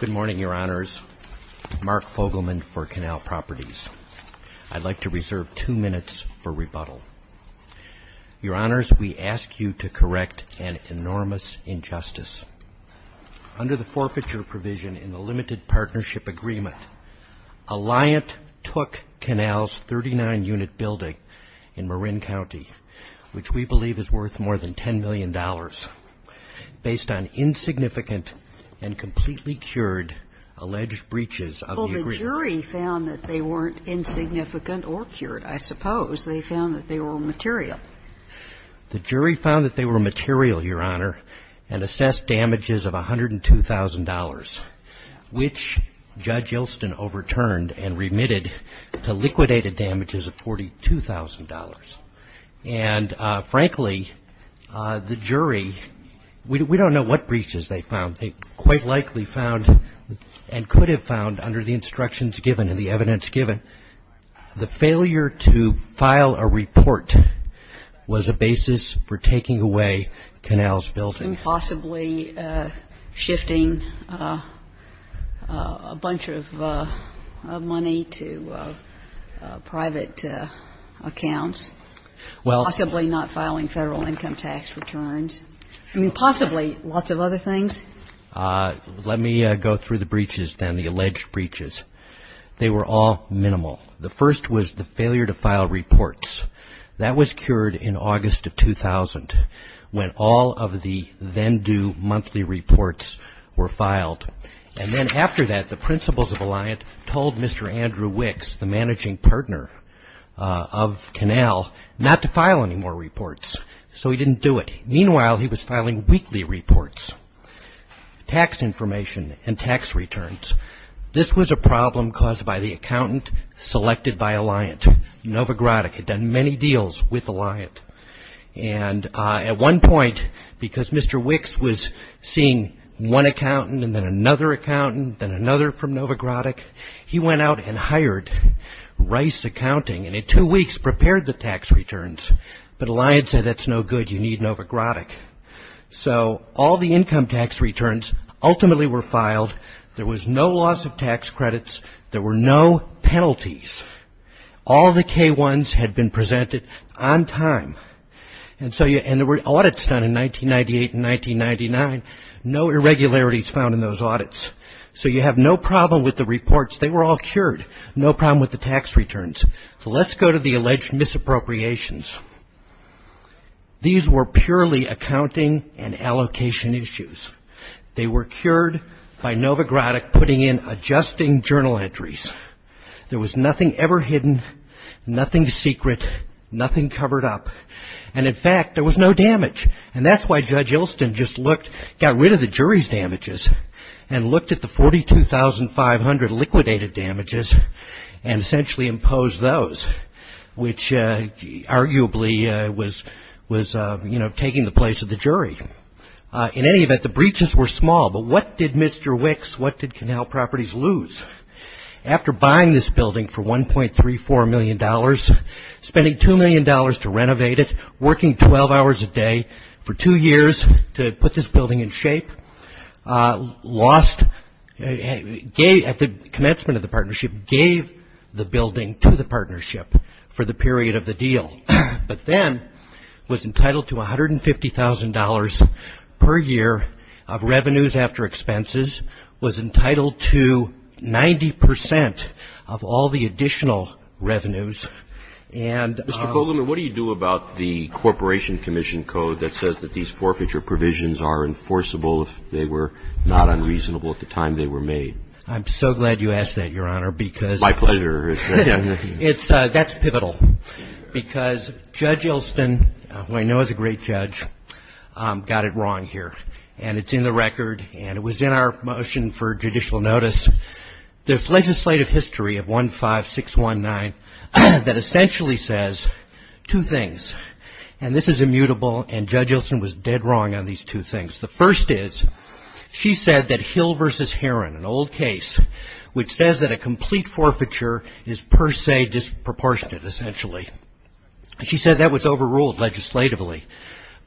Good morning, Your Honors. Mark Fogelman for Canal Properties. I'd like to reserve two minutes for rebuttal. Your Honors, we ask you to correct an enormous injustice. Under the forfeiture provision in the Limited Partnership Agreement, Alliant took Canal's 39-unit building in Marin County, which we believe is worth more than $10 million, based on insignificant and completely cured alleged breaches of the agreement. Well, the jury found that they weren't insignificant or cured, I suppose. They found that they were material. The jury found that they were material, Your Honor, and assessed damages of $102,000, which Judge And, frankly, the jury, we don't know what breaches they found. They quite likely found and could have found, under the instructions given and the evidence given, the failure to file a report was a basis for taking away Canal's building. I mean, possibly shifting a bunch of money to private accounts. Possibly not filing federal income tax returns. I mean, possibly lots of other things. Let me go through the breaches then, the alleged breaches. They were all minimal. The first was the failure to file reports. That was cured in August of 2000, when all of the then-due monthly reports were filed. And then after that, the principals of Alliant told Mr. Andrew Wicks, the managing partner of Canal, not to file any more reports. So he didn't do it. Meanwhile, he was filing weekly reports, tax information, and tax returns. This was a problem caused by the accountant selected by Alliant. Novigradic had done many deals with Alliant. And at one point, because Mr. Wicks was seeing one accountant and then another accountant, then another from Novigradic, he went out and hired Rice Accounting and in two weeks prepared the tax returns. But Alliant said, that's no good. You need Novigradic. So all the income tax returns ultimately were filed. There was no loss of tax credits. There were no penalties. All the K-1s had been presented on time. And so, and there were audits done in 1998 and 1999. No irregularities found in those audits. So you have no problem with the reports. They were all cured. No problem with the tax returns. So let's go to the alleged misappropriations. These were purely accounting and allocation issues. They were cured by Novigradic putting in adjusting journal entries. There was nothing ever hidden, nothing secret, nothing covered up. And in fact, there was no damage. And that's why Judge Ilston just looked, got rid of the jury's damages and looked at the damages of those, which arguably was taking the place of the jury. In any event, the breaches were small. But what did Mr. Wicks, what did Canal Properties lose? After buying this building for $1.34 million, spending $2 million to renovate it, working 12 hours a day for two years to put this building in shape, lost, at the commencement of the partnership, gave the building to the partnership for the period of the deal, but then was entitled to $150,000 per year of revenues after expenses, was entitled to 90 percent of all the additional revenues. And Mr. Kogelman, what do you do about the Corporation Commission Code that says that these forfeiture provisions are enforceable if they were not unreasonable at the time they were made? I'm so glad you asked that, Your Honor, because My pleasure. That's pivotal, because Judge Ilston, who I know is a great judge, got it wrong here. And it's in the record, and it was in our motion for judicial notice. There's legislative history of 15619 that essentially says two things. And this is immutable, and Judge Ilston was dead wrong on these two things. The first is, she said that Hill v. Herron, an old case which says that a complete forfeiture is per se disproportionate, essentially. She said that was overruled legislatively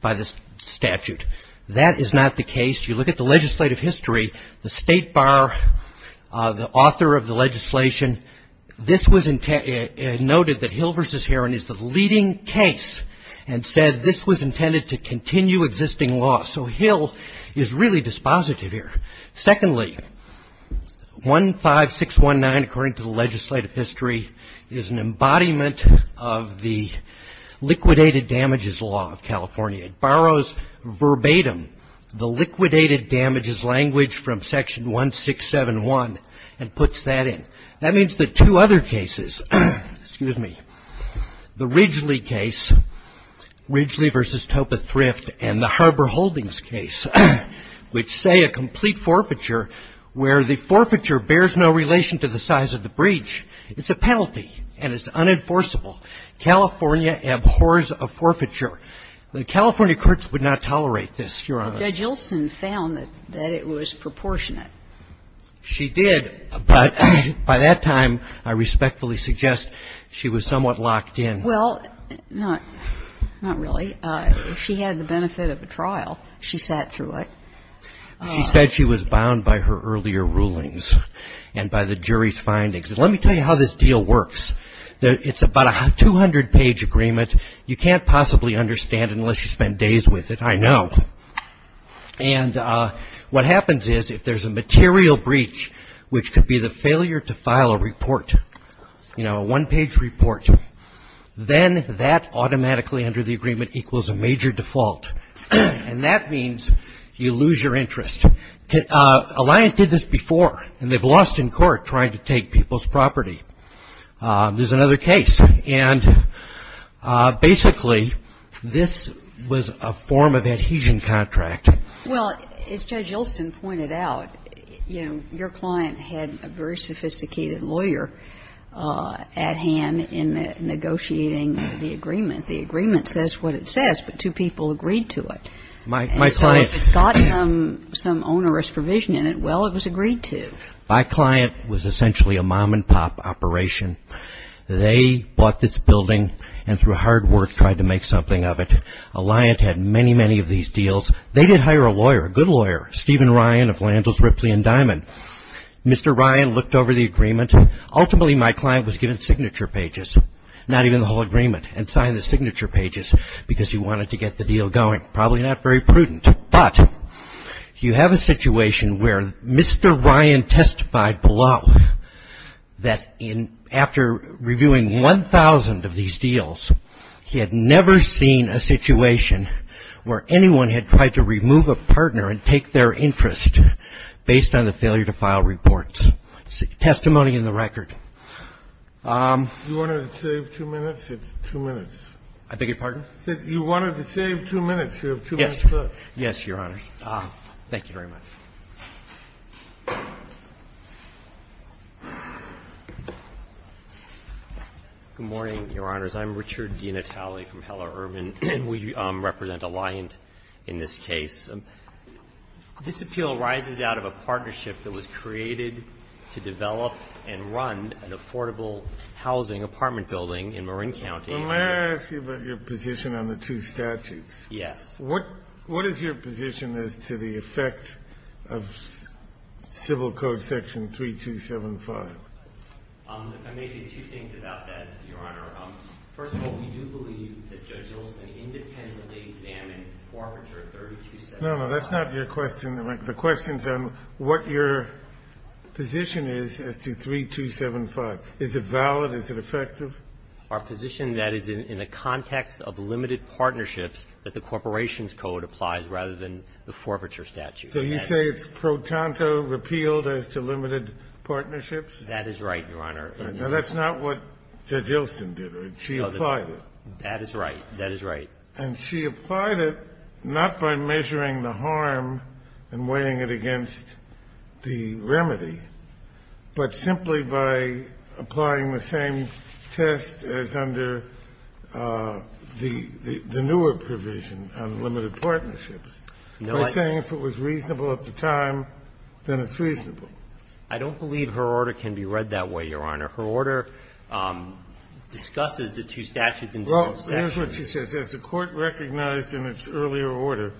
by the statute. That is not the case. You look at the legislative history, the State Bar, the author of the legislation, this was noted that Hill v. Herron is the leading case, and said this was intended to continue existing law. So Hill is really dispositive here. Secondly, 15619, according to the legislative history, is an embodiment of the liquidated damages law of California. It borrows verbatim the liquidated damages language from section 1671 and puts that in. That means that two other cases, excuse me, the Ridgely case, Ridgely v. Topith-Thrift, and the Harbor Holdings case, which say a complete forfeiture where the forfeiture bears no relation to the size of the breach. It's a penalty, and it's unenforceable. California abhors a forfeiture. The California courts would not tolerate this, Your Honor. Kagan. Judge Ilston found that it was proportionate. She did, but by that time, I respectfully suggest she was somewhat locked in. Well, not really. If she had the benefit of a trial, she sat through it. She said she was bound by her earlier rulings and by the jury's findings. Let me tell you how this deal works. It's about a 200-page agreement. You can't possibly understand it unless you spend days with it, I know. And what happens is if there's a material breach, which could be the failure to file a report, you know, a one-page report, then that automatically under the agreement equals a major default. And that means you lose your interest. Alliant did this before, and they've lost in court trying to take people's property. There's another case. And basically, this was a form of adhesion contract. Well, as Judge Ilston pointed out, you know, your client had a very sophisticated lawyer at hand in negotiating the agreement. The agreement says what it says, but two people agreed to it. My client. And so if it's got some onerous provision in it, well, it was agreed to. My client was essentially a mom-and-pop operation. They bought this building and through hard work tried to make something of it. Alliant had many, many of these deals. They did hire a lawyer, a good lawyer, Stephen Ryan of Landell's Ripley & Diamond. Mr. Ryan looked over the agreement. Ultimately, my client was given signature pages, not even the whole agreement, and signed the signature pages because he wanted to get the deal going. Probably not very prudent. But you have a situation where Mr. Ryan testified below that in after reviewing 1,000 of these deals, he had never seen a situation where anyone had tried to remove a partner and take their interest based on the failure to file reports. Testimony in the record. You wanted to save two minutes? It's two minutes. I beg your pardon? You wanted to save two minutes. You have two minutes left. Yes, Your Honor. Thank you very much. Good morning, Your Honors. I'm Richard DiNatale from Heller Urban. And we represent Alliant in this case. This appeal arises out of a partnership that was created to develop and run an affordable housing apartment building in Marin County. I'm going to ask you about your position on the two statutes. Yes. What is your position as to the effect of Civil Code section 3275? I may say two things about that, Your Honor. First of all, we do believe that Judge Olson independently examined forfeiture 3275. No, no. That's not your question. The question is on what your position is as to 3275. Is it valid? Is it effective? Our position, that is, in the context of limited partnerships, that the Corporation's Code applies rather than the forfeiture statute. So you say it's pro tanto repealed as to limited partnerships? That is right, Your Honor. Now, that's not what Judge Olson did. She applied it. That is right. That is right. And she applied it not by measuring the harm and weighing it against the remedy, but simply by applying the same test as under the newer provision on limited partnerships, by saying if it was reasonable at the time, then it's reasonable. I don't believe her order can be read that way, Your Honor. Her order discusses the two statutes in both sections. Well, here's what she says. As the Court recognized in its earlier order,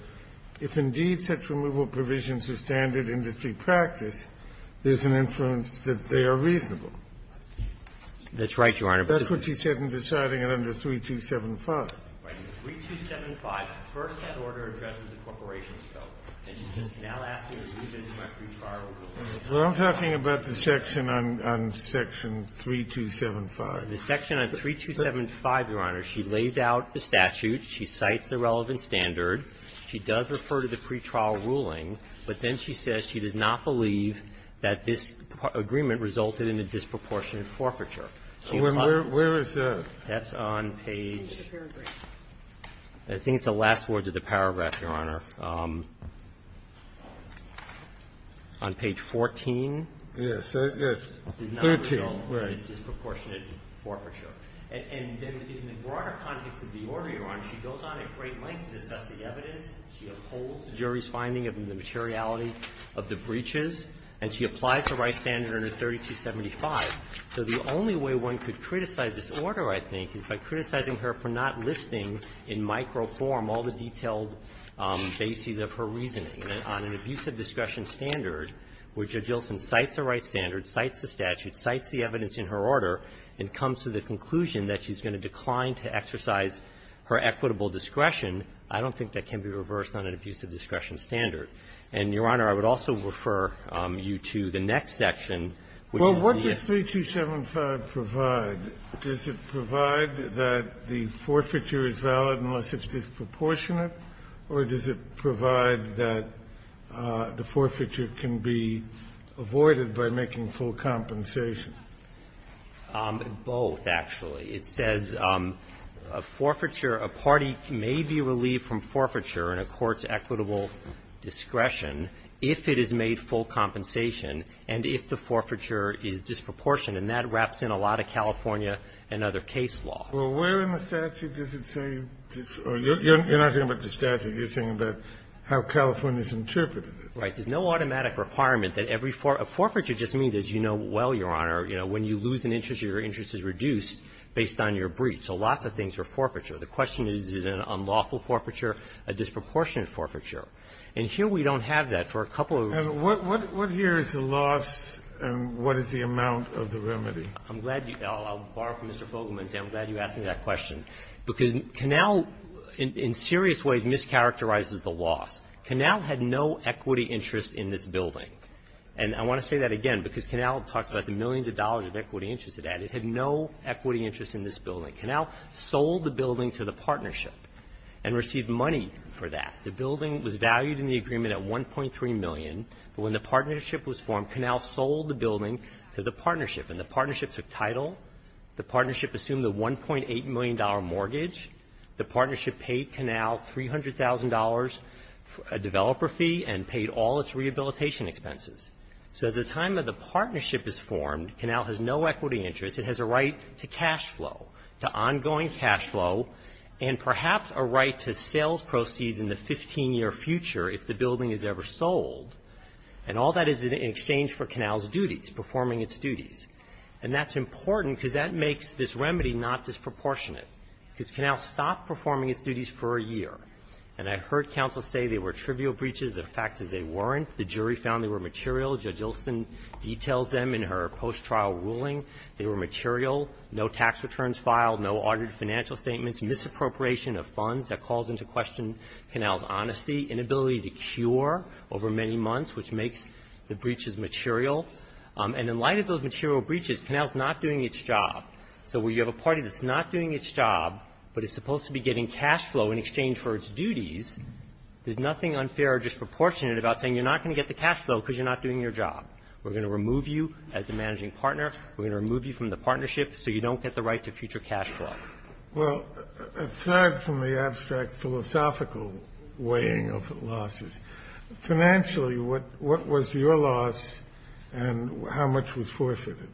if indeed such removal provisions are standard industry practice, there's an influence that they are reasonable. That's right, Your Honor. That's what she said in deciding it under 3275. Right. In 3275, first that order addresses the Corporation's Code, and she's now asking to move it to a pre-trial ruling. Well, I'm talking about the section on section 3275. The section on 3275, Your Honor, she lays out the statute. She cites the relevant standard. She does refer to the pre-trial ruling, but then she says she does not believe that this agreement resulted in a disproportionate forfeiture. So where is that? That's on page — I think it's the last words of the paragraph, Your Honor. On page 14. Yes. Yes. 13. It does not result in a disproportionate forfeiture. And then in the broader context of the order, Your Honor, she goes on at great length to discuss the evidence. She upholds the jury's finding of the materiality of the breaches. And she applies the right standard under 3275. So the only way one could criticize this order, I think, is by criticizing her for not listing in microform all the detailed bases of her reasoning on an abusive discretion standard, which Jiltson cites the right standard, cites the statute, cites the evidence in her order, and comes to the conclusion that she's going to decline to exercise her equitable discretion. I don't think that can be reversed on an abusive discretion standard. And, Your Honor, I would also refer you to the next section, which is the — Well, what does 3275 provide? Does it provide that the forfeiture is valid unless it's disproportionate? Or does it provide that the forfeiture can be avoided by making full compensation Both, actually. It says a forfeiture, a party may be relieved from forfeiture in a court's equitable discretion if it is made full compensation, and if the forfeiture is disproportionate. And that wraps in a lot of California and other case law. Well, where in the statute does it say this — or you're not thinking about the statute. You're thinking about how California's interpreted it. Right. There's no automatic requirement that every — a forfeiture just means, as you know well, Your Honor, you know, when you lose an interest, your interest is reduced based on your breach. So lots of things are forfeiture. The question is, is it an unlawful forfeiture, a disproportionate forfeiture? And here we don't have that for a couple of reasons. What here is the loss, and what is the amount of the remedy? I'm glad you — I'll borrow from Mr. Fogelman's answer. I'm glad you asked me that question. Because Canal in serious ways mischaracterizes the loss. Canal had no equity interest in this building. And I want to say that again, because Canal talks about the millions of dollars of equity interest it had. It had no equity interest in this building. Canal sold the building to the partnership and received money for that. The building was valued in the agreement at $1.3 million. But when the partnership was formed, Canal sold the building to the partnership. And the partnership took title. The partnership assumed the $1.8 million mortgage. The partnership paid Canal $300,000 developer fee and paid all its rehabilitation expenses. So as the time of the partnership is formed, Canal has no equity interest. It has a right to cash flow, to ongoing cash flow, and perhaps a right to sales proceeds in the 15-year future if the building is ever sold. And all that is in exchange for Canal's duties, performing its duties. And that's important because that makes this remedy not disproportionate, because Canal stopped performing its duties for a year. And I heard counsel say they were trivial breaches. The fact is they weren't. The jury found they were material. Judge Ilson details them in her post-trial ruling. They were material. No tax returns filed. No audited financial statements. Misappropriation of funds. That calls into question Canal's honesty. Inability to cure over many months, which makes the breaches material. And in light of those material breaches, Canal is not doing its job. So when you have a party that's not doing its job, but is supposed to be getting cash flow in exchange for its duties, there's nothing unfair or disproportionate about saying you're not going to get the cash flow because you're not doing your job. We're going to remove you as the managing partner. We're going to remove you from the partnership so you don't get the right to future cash flow. Well, aside from the abstract philosophical weighing of losses, financially, what was your loss and how much was forfeited?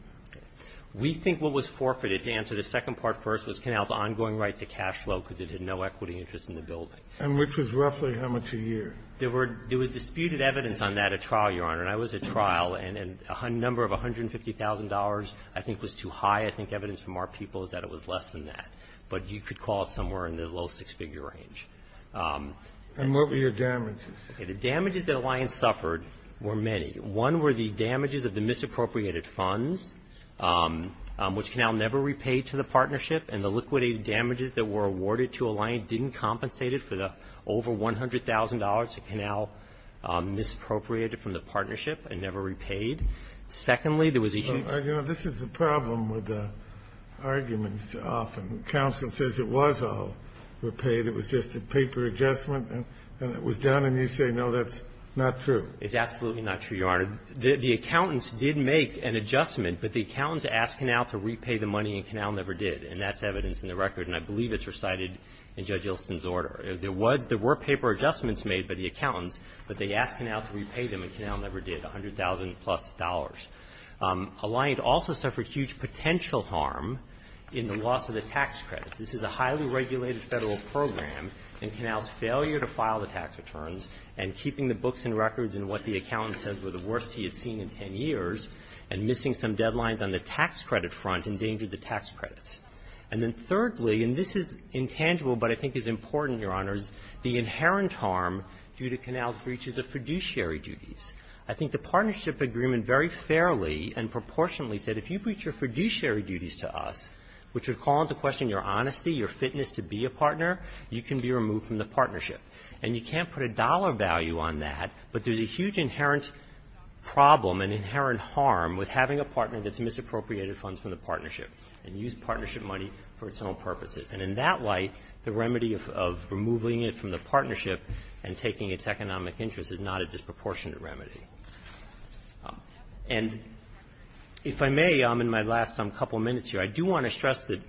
We think what was forfeited, to answer the second part first, was Canal's ongoing right to cash flow because it had no equity interest in the building. And which was roughly how much a year? There were – there was disputed evidence on that at trial, Your Honor. And that was at trial. And a number of $150,000 I think was too high. I think evidence from our people is that it was less than that. But you could call it somewhere in the low six-figure range. And what were your damages? The damages that Alliance suffered were many. One were the damages of the misappropriated funds, which Canal never repaid to the partnership. And the liquidated damages that were awarded to Alliance didn't compensate it for the over $100,000 that Canal misappropriated from the partnership and never repaid. Secondly, there was a huge – Well, you know, this is the problem with the arguments often. Counsel says it was all repaid. It was just a paper adjustment and it was done. And you say, no, that's not true. It's absolutely not true, Your Honor. The accountants did make an adjustment. But the accountants asked Canal to repay the money and Canal never did. And that's evidence in the record, and I believe it's recited in Judge Ilson's order. There was – there were paper adjustments made by the accountants, but they asked Canal to repay them and Canal never did, $100,000-plus. Alliance also suffered huge potential harm in the loss of the tax credits. This is a highly regulated Federal program, and Canal's failure to file the tax returns and keeping the books and records and what the accountant says were the worst he had seen in 10 years and missing some deadlines on the tax credit front endangered the tax credits. And then thirdly, and this is intangible but I think is important, Your Honor, is the inherent harm due to Canal's breaches of fiduciary duties. I think the partnership agreement very fairly and proportionately said if you breached your fiduciary duties to us, which would call into question your honesty, your fitness to be a partner, you can be removed from the partnership. And you can't put a dollar value on that, but there's a huge inherent problem, an inherent harm with having a partner that's misappropriated funds from the partnership and used partnership money for its own purposes. And in that light, the remedy of removing it from the partnership and taking its economic interest is not a disproportionate remedy. And if I may, I'm in my last couple minutes here. I do want to stress that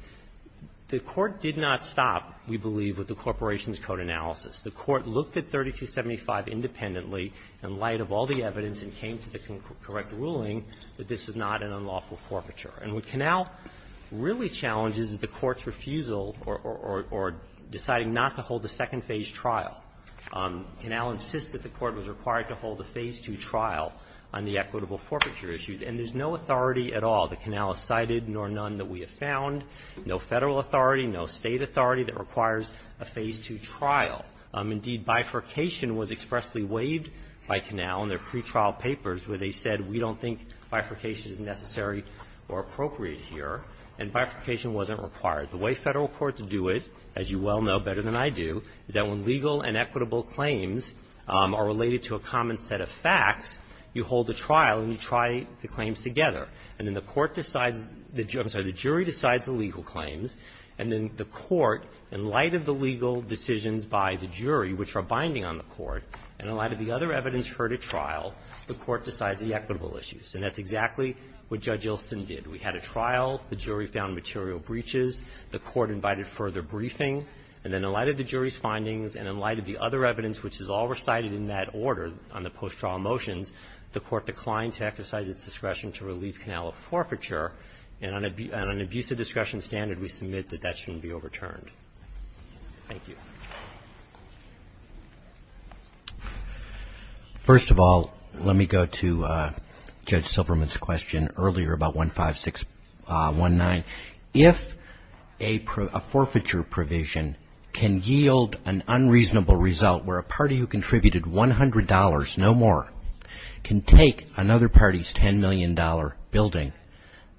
the Court did not stop, we believe, with the Corporation's Code analysis. The Court looked at 3275 independently in light of all the evidence and came to the correct ruling that this was not an unlawful forfeiture. And what Canal really challenges is the Court's refusal or deciding not to hold a second phase trial. Canal insists that the Court was required to hold a phase two trial on the equitable forfeiture issues. And there's no authority at all. The Canal has cited nor none that we have found, no Federal authority, no State authority that requires a phase two trial. Indeed, bifurcation was expressly waived by Canal in their pretrial papers where they said, we don't think bifurcation is necessary or appropriate here. And bifurcation wasn't required. The way Federal courts do it, as you well know better than I do, is that when legal and equitable claims are related to a common set of facts, you hold a trial and you try the claims together. And then the Court decides the jury decides the legal claims. And then the Court, in light of the legal decisions by the jury, which are binding on the Court, and in light of the other evidence heard at trial, the Court decides the equitable issues. And that's exactly what Judge Ilston did. We had a trial. The jury found material breaches. The Court invited further briefing. And then in light of the jury's findings and in light of the other evidence which is all recited in that order on the post-trial motions, the Court declined to exercise its discretion to relieve Canal of forfeiture. And on an abuse of discretion standard, we submit that that shouldn't be overturned. Thank you. First of all, let me go to Judge Silverman's question earlier about 15619. If a forfeiture provision can yield an unreasonable result where a party who contributed $100, no more, can take another party's $10 million building,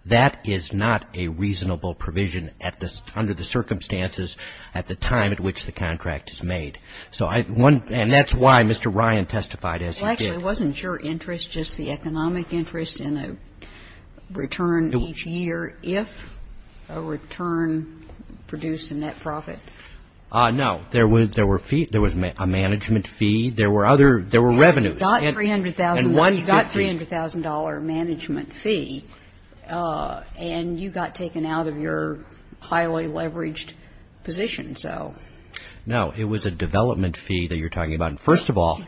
that is not a reasonable provision under the circumstances at the time at which the contract is made. And that's why Mr. Ryan testified as he did. Well, actually, wasn't your interest just the economic interest in a return each year if a return produced a net profit? No. There was a management fee. There were revenues. You got $300,000 management fee, and you got taken out of your highly leveraged position, so. No. It was a development fee that you're talking about. First of all, in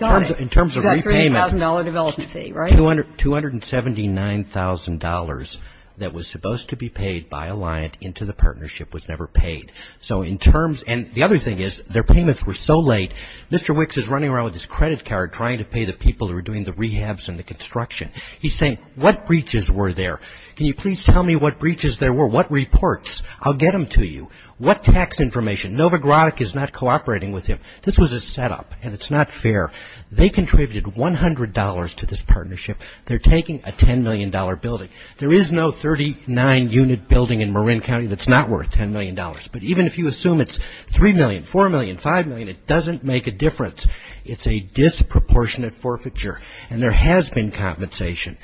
terms of repayment. You got a $300,000 development fee, right? $279,000 that was supposed to be paid by a liant into the partnership was never paid. So in terms of the other thing is their payments were so late. Mr. Wicks is running around with his credit card trying to pay the people who are doing the rehabs and the construction. He's saying, what breaches were there? Can you please tell me what breaches there were? What reports? I'll get them to you. What tax information? Nova Grotek is not cooperating with him. This was a setup, and it's not fair. They contributed $100 to this partnership. They're taking a $10 million building. There is no 39-unit building in Marin County that's not worth $10 million. But even if you assume it's $3 million, $4 million, $5 million, it doesn't make a difference. It's a disproportionate forfeiture, and there has been compensation.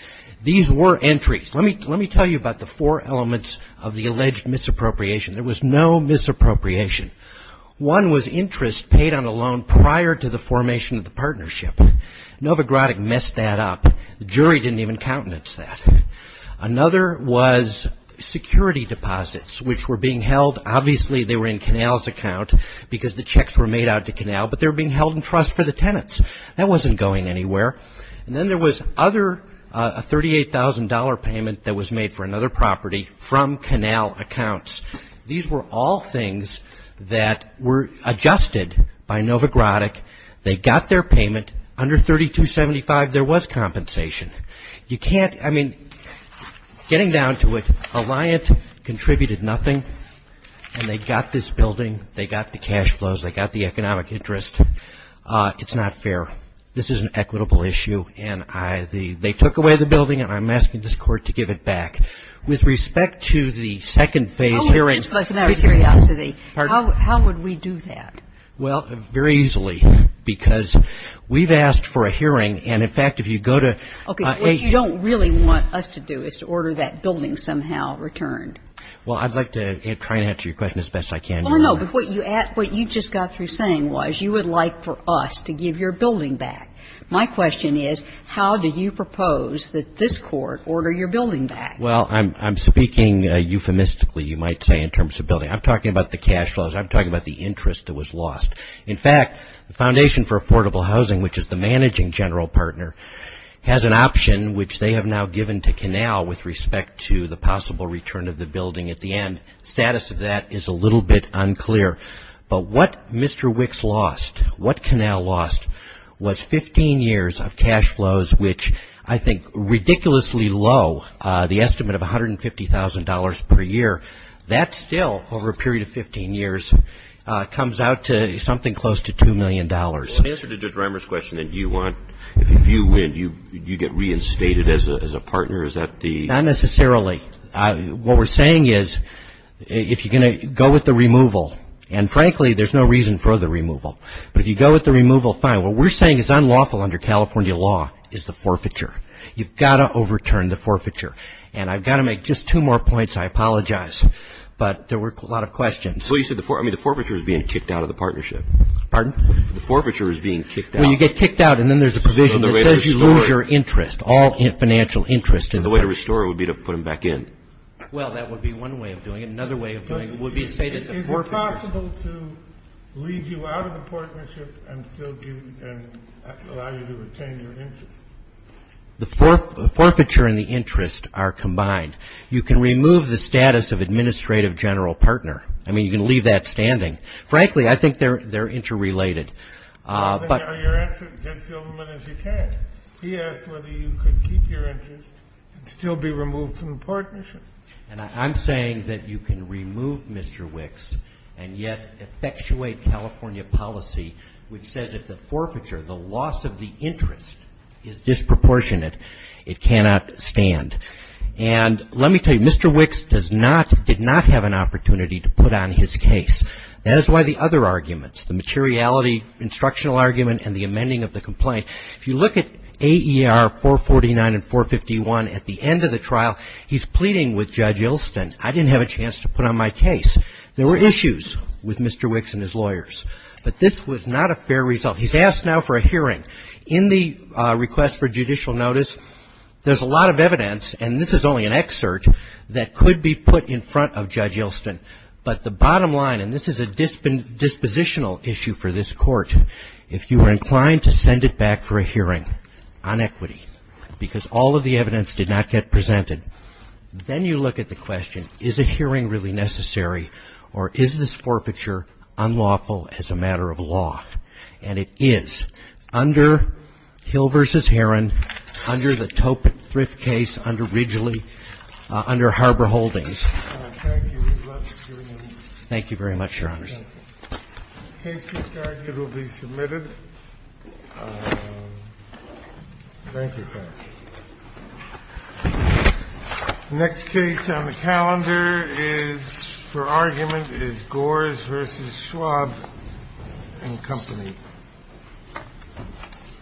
These were entries. Let me tell you about the four elements of the alleged misappropriation. There was no misappropriation. One was interest paid on a loan prior to the formation of the partnership. Nova Grotek messed that up. The jury didn't even countenance that. Another was security deposits, which were being held. Obviously, they were in Canal's account because the checks were made out to Canal, but they were being held in trust for the tenants. That wasn't going anywhere. And then there was a $38,000 payment that was made for another property from Canal accounts. These were all things that were adjusted by Nova Grotek. They got their payment. Under 3275, there was compensation. You can't, I mean, getting down to it, Alliant contributed nothing, and they got this building. They got the cash flows. They got the economic interest. It's not fair. This is an equitable issue, and they took away the building, and I'm asking this Court to give it back. With respect to the second phase hearings. How would we do that? Well, very easily, because we've asked for a hearing. And, in fact, if you go to. Okay. What you don't really want us to do is to order that building somehow returned. Well, I'd like to try and answer your question as best I can. Well, no, but what you just got through saying was you would like for us to give your building back. My question is, how do you propose that this Court order your building back? Well, I'm speaking euphemistically, you might say, in terms of building. I'm talking about the cash flows. I'm talking about the interest that was lost. In fact, the Foundation for Affordable Housing, which is the managing general partner, has an option which they have now given to Canal with respect to the possible return of the building at the end. The status of that is a little bit unclear. But what Mr. Wicks lost, what Canal lost, was 15 years of cash flows, which I think ridiculously low, the estimate of $150,000 per year. That still, over a period of 15 years, comes out to something close to $2 million. Well, in answer to Judge Reimer's question, do you want, if you win, do you get reinstated as a partner? Is that the? Not necessarily. What we're saying is if you're going to go with the removal, and frankly, there's no reason for the removal. But if you go with the removal, fine. What we're saying is unlawful under California law is the forfeiture. You've got to overturn the forfeiture. And I've got to make just two more points. I apologize. But there were a lot of questions. Well, you said the forfeiture is being kicked out of the partnership. Pardon? The forfeiture is being kicked out. Well, you get kicked out, and then there's a provision that says you lose your interest, all financial interest. And the way to restore it would be to put them back in. Well, that would be one way of doing it. Another way of doing it would be to say that the forfeiture. Is it possible to leave you out of the partnership and still allow you to retain your interest? The forfeiture and the interest are combined. You can remove the status of administrative general partner. I mean, you can leave that standing. Frankly, I think they're interrelated. Are you asking the gentleman if he can? He asked whether you could keep your interest and still be removed from the partnership. And I'm saying that you can remove Mr. Wicks and yet effectuate California policy, which says that the forfeiture, the loss of the interest, is disproportionate. It cannot stand. And let me tell you, Mr. Wicks did not have an opportunity to put on his case. That is why the other arguments, the materiality, instructional argument, and the amending of the complaint. If you look at AER 449 and 451 at the end of the trial, he's pleading with Judge Ilston. I didn't have a chance to put on my case. There were issues with Mr. Wicks and his lawyers. But this was not a fair result. He's asked now for a hearing. In the request for judicial notice, there's a lot of evidence, and this is only an excerpt, that could be put in front of Judge Ilston. But the bottom line, and this is a dispositional issue for this Court, if you were inclined to send it back for a hearing on equity because all of the evidence did not get presented, then you look at the question, is a hearing really necessary, or is this forfeiture unlawful as a matter of law? And it is. Under Hill v. Herron, under the Tope Thrift Case, under Ridgely, under Harbor Holdings. Thank you. We'd love to hear your opinion. Thank you very much, Your Honors. The case is carried. It will be submitted. Thank you, counsel. The next case on the calendar for argument is Gores v. Schwab and Company.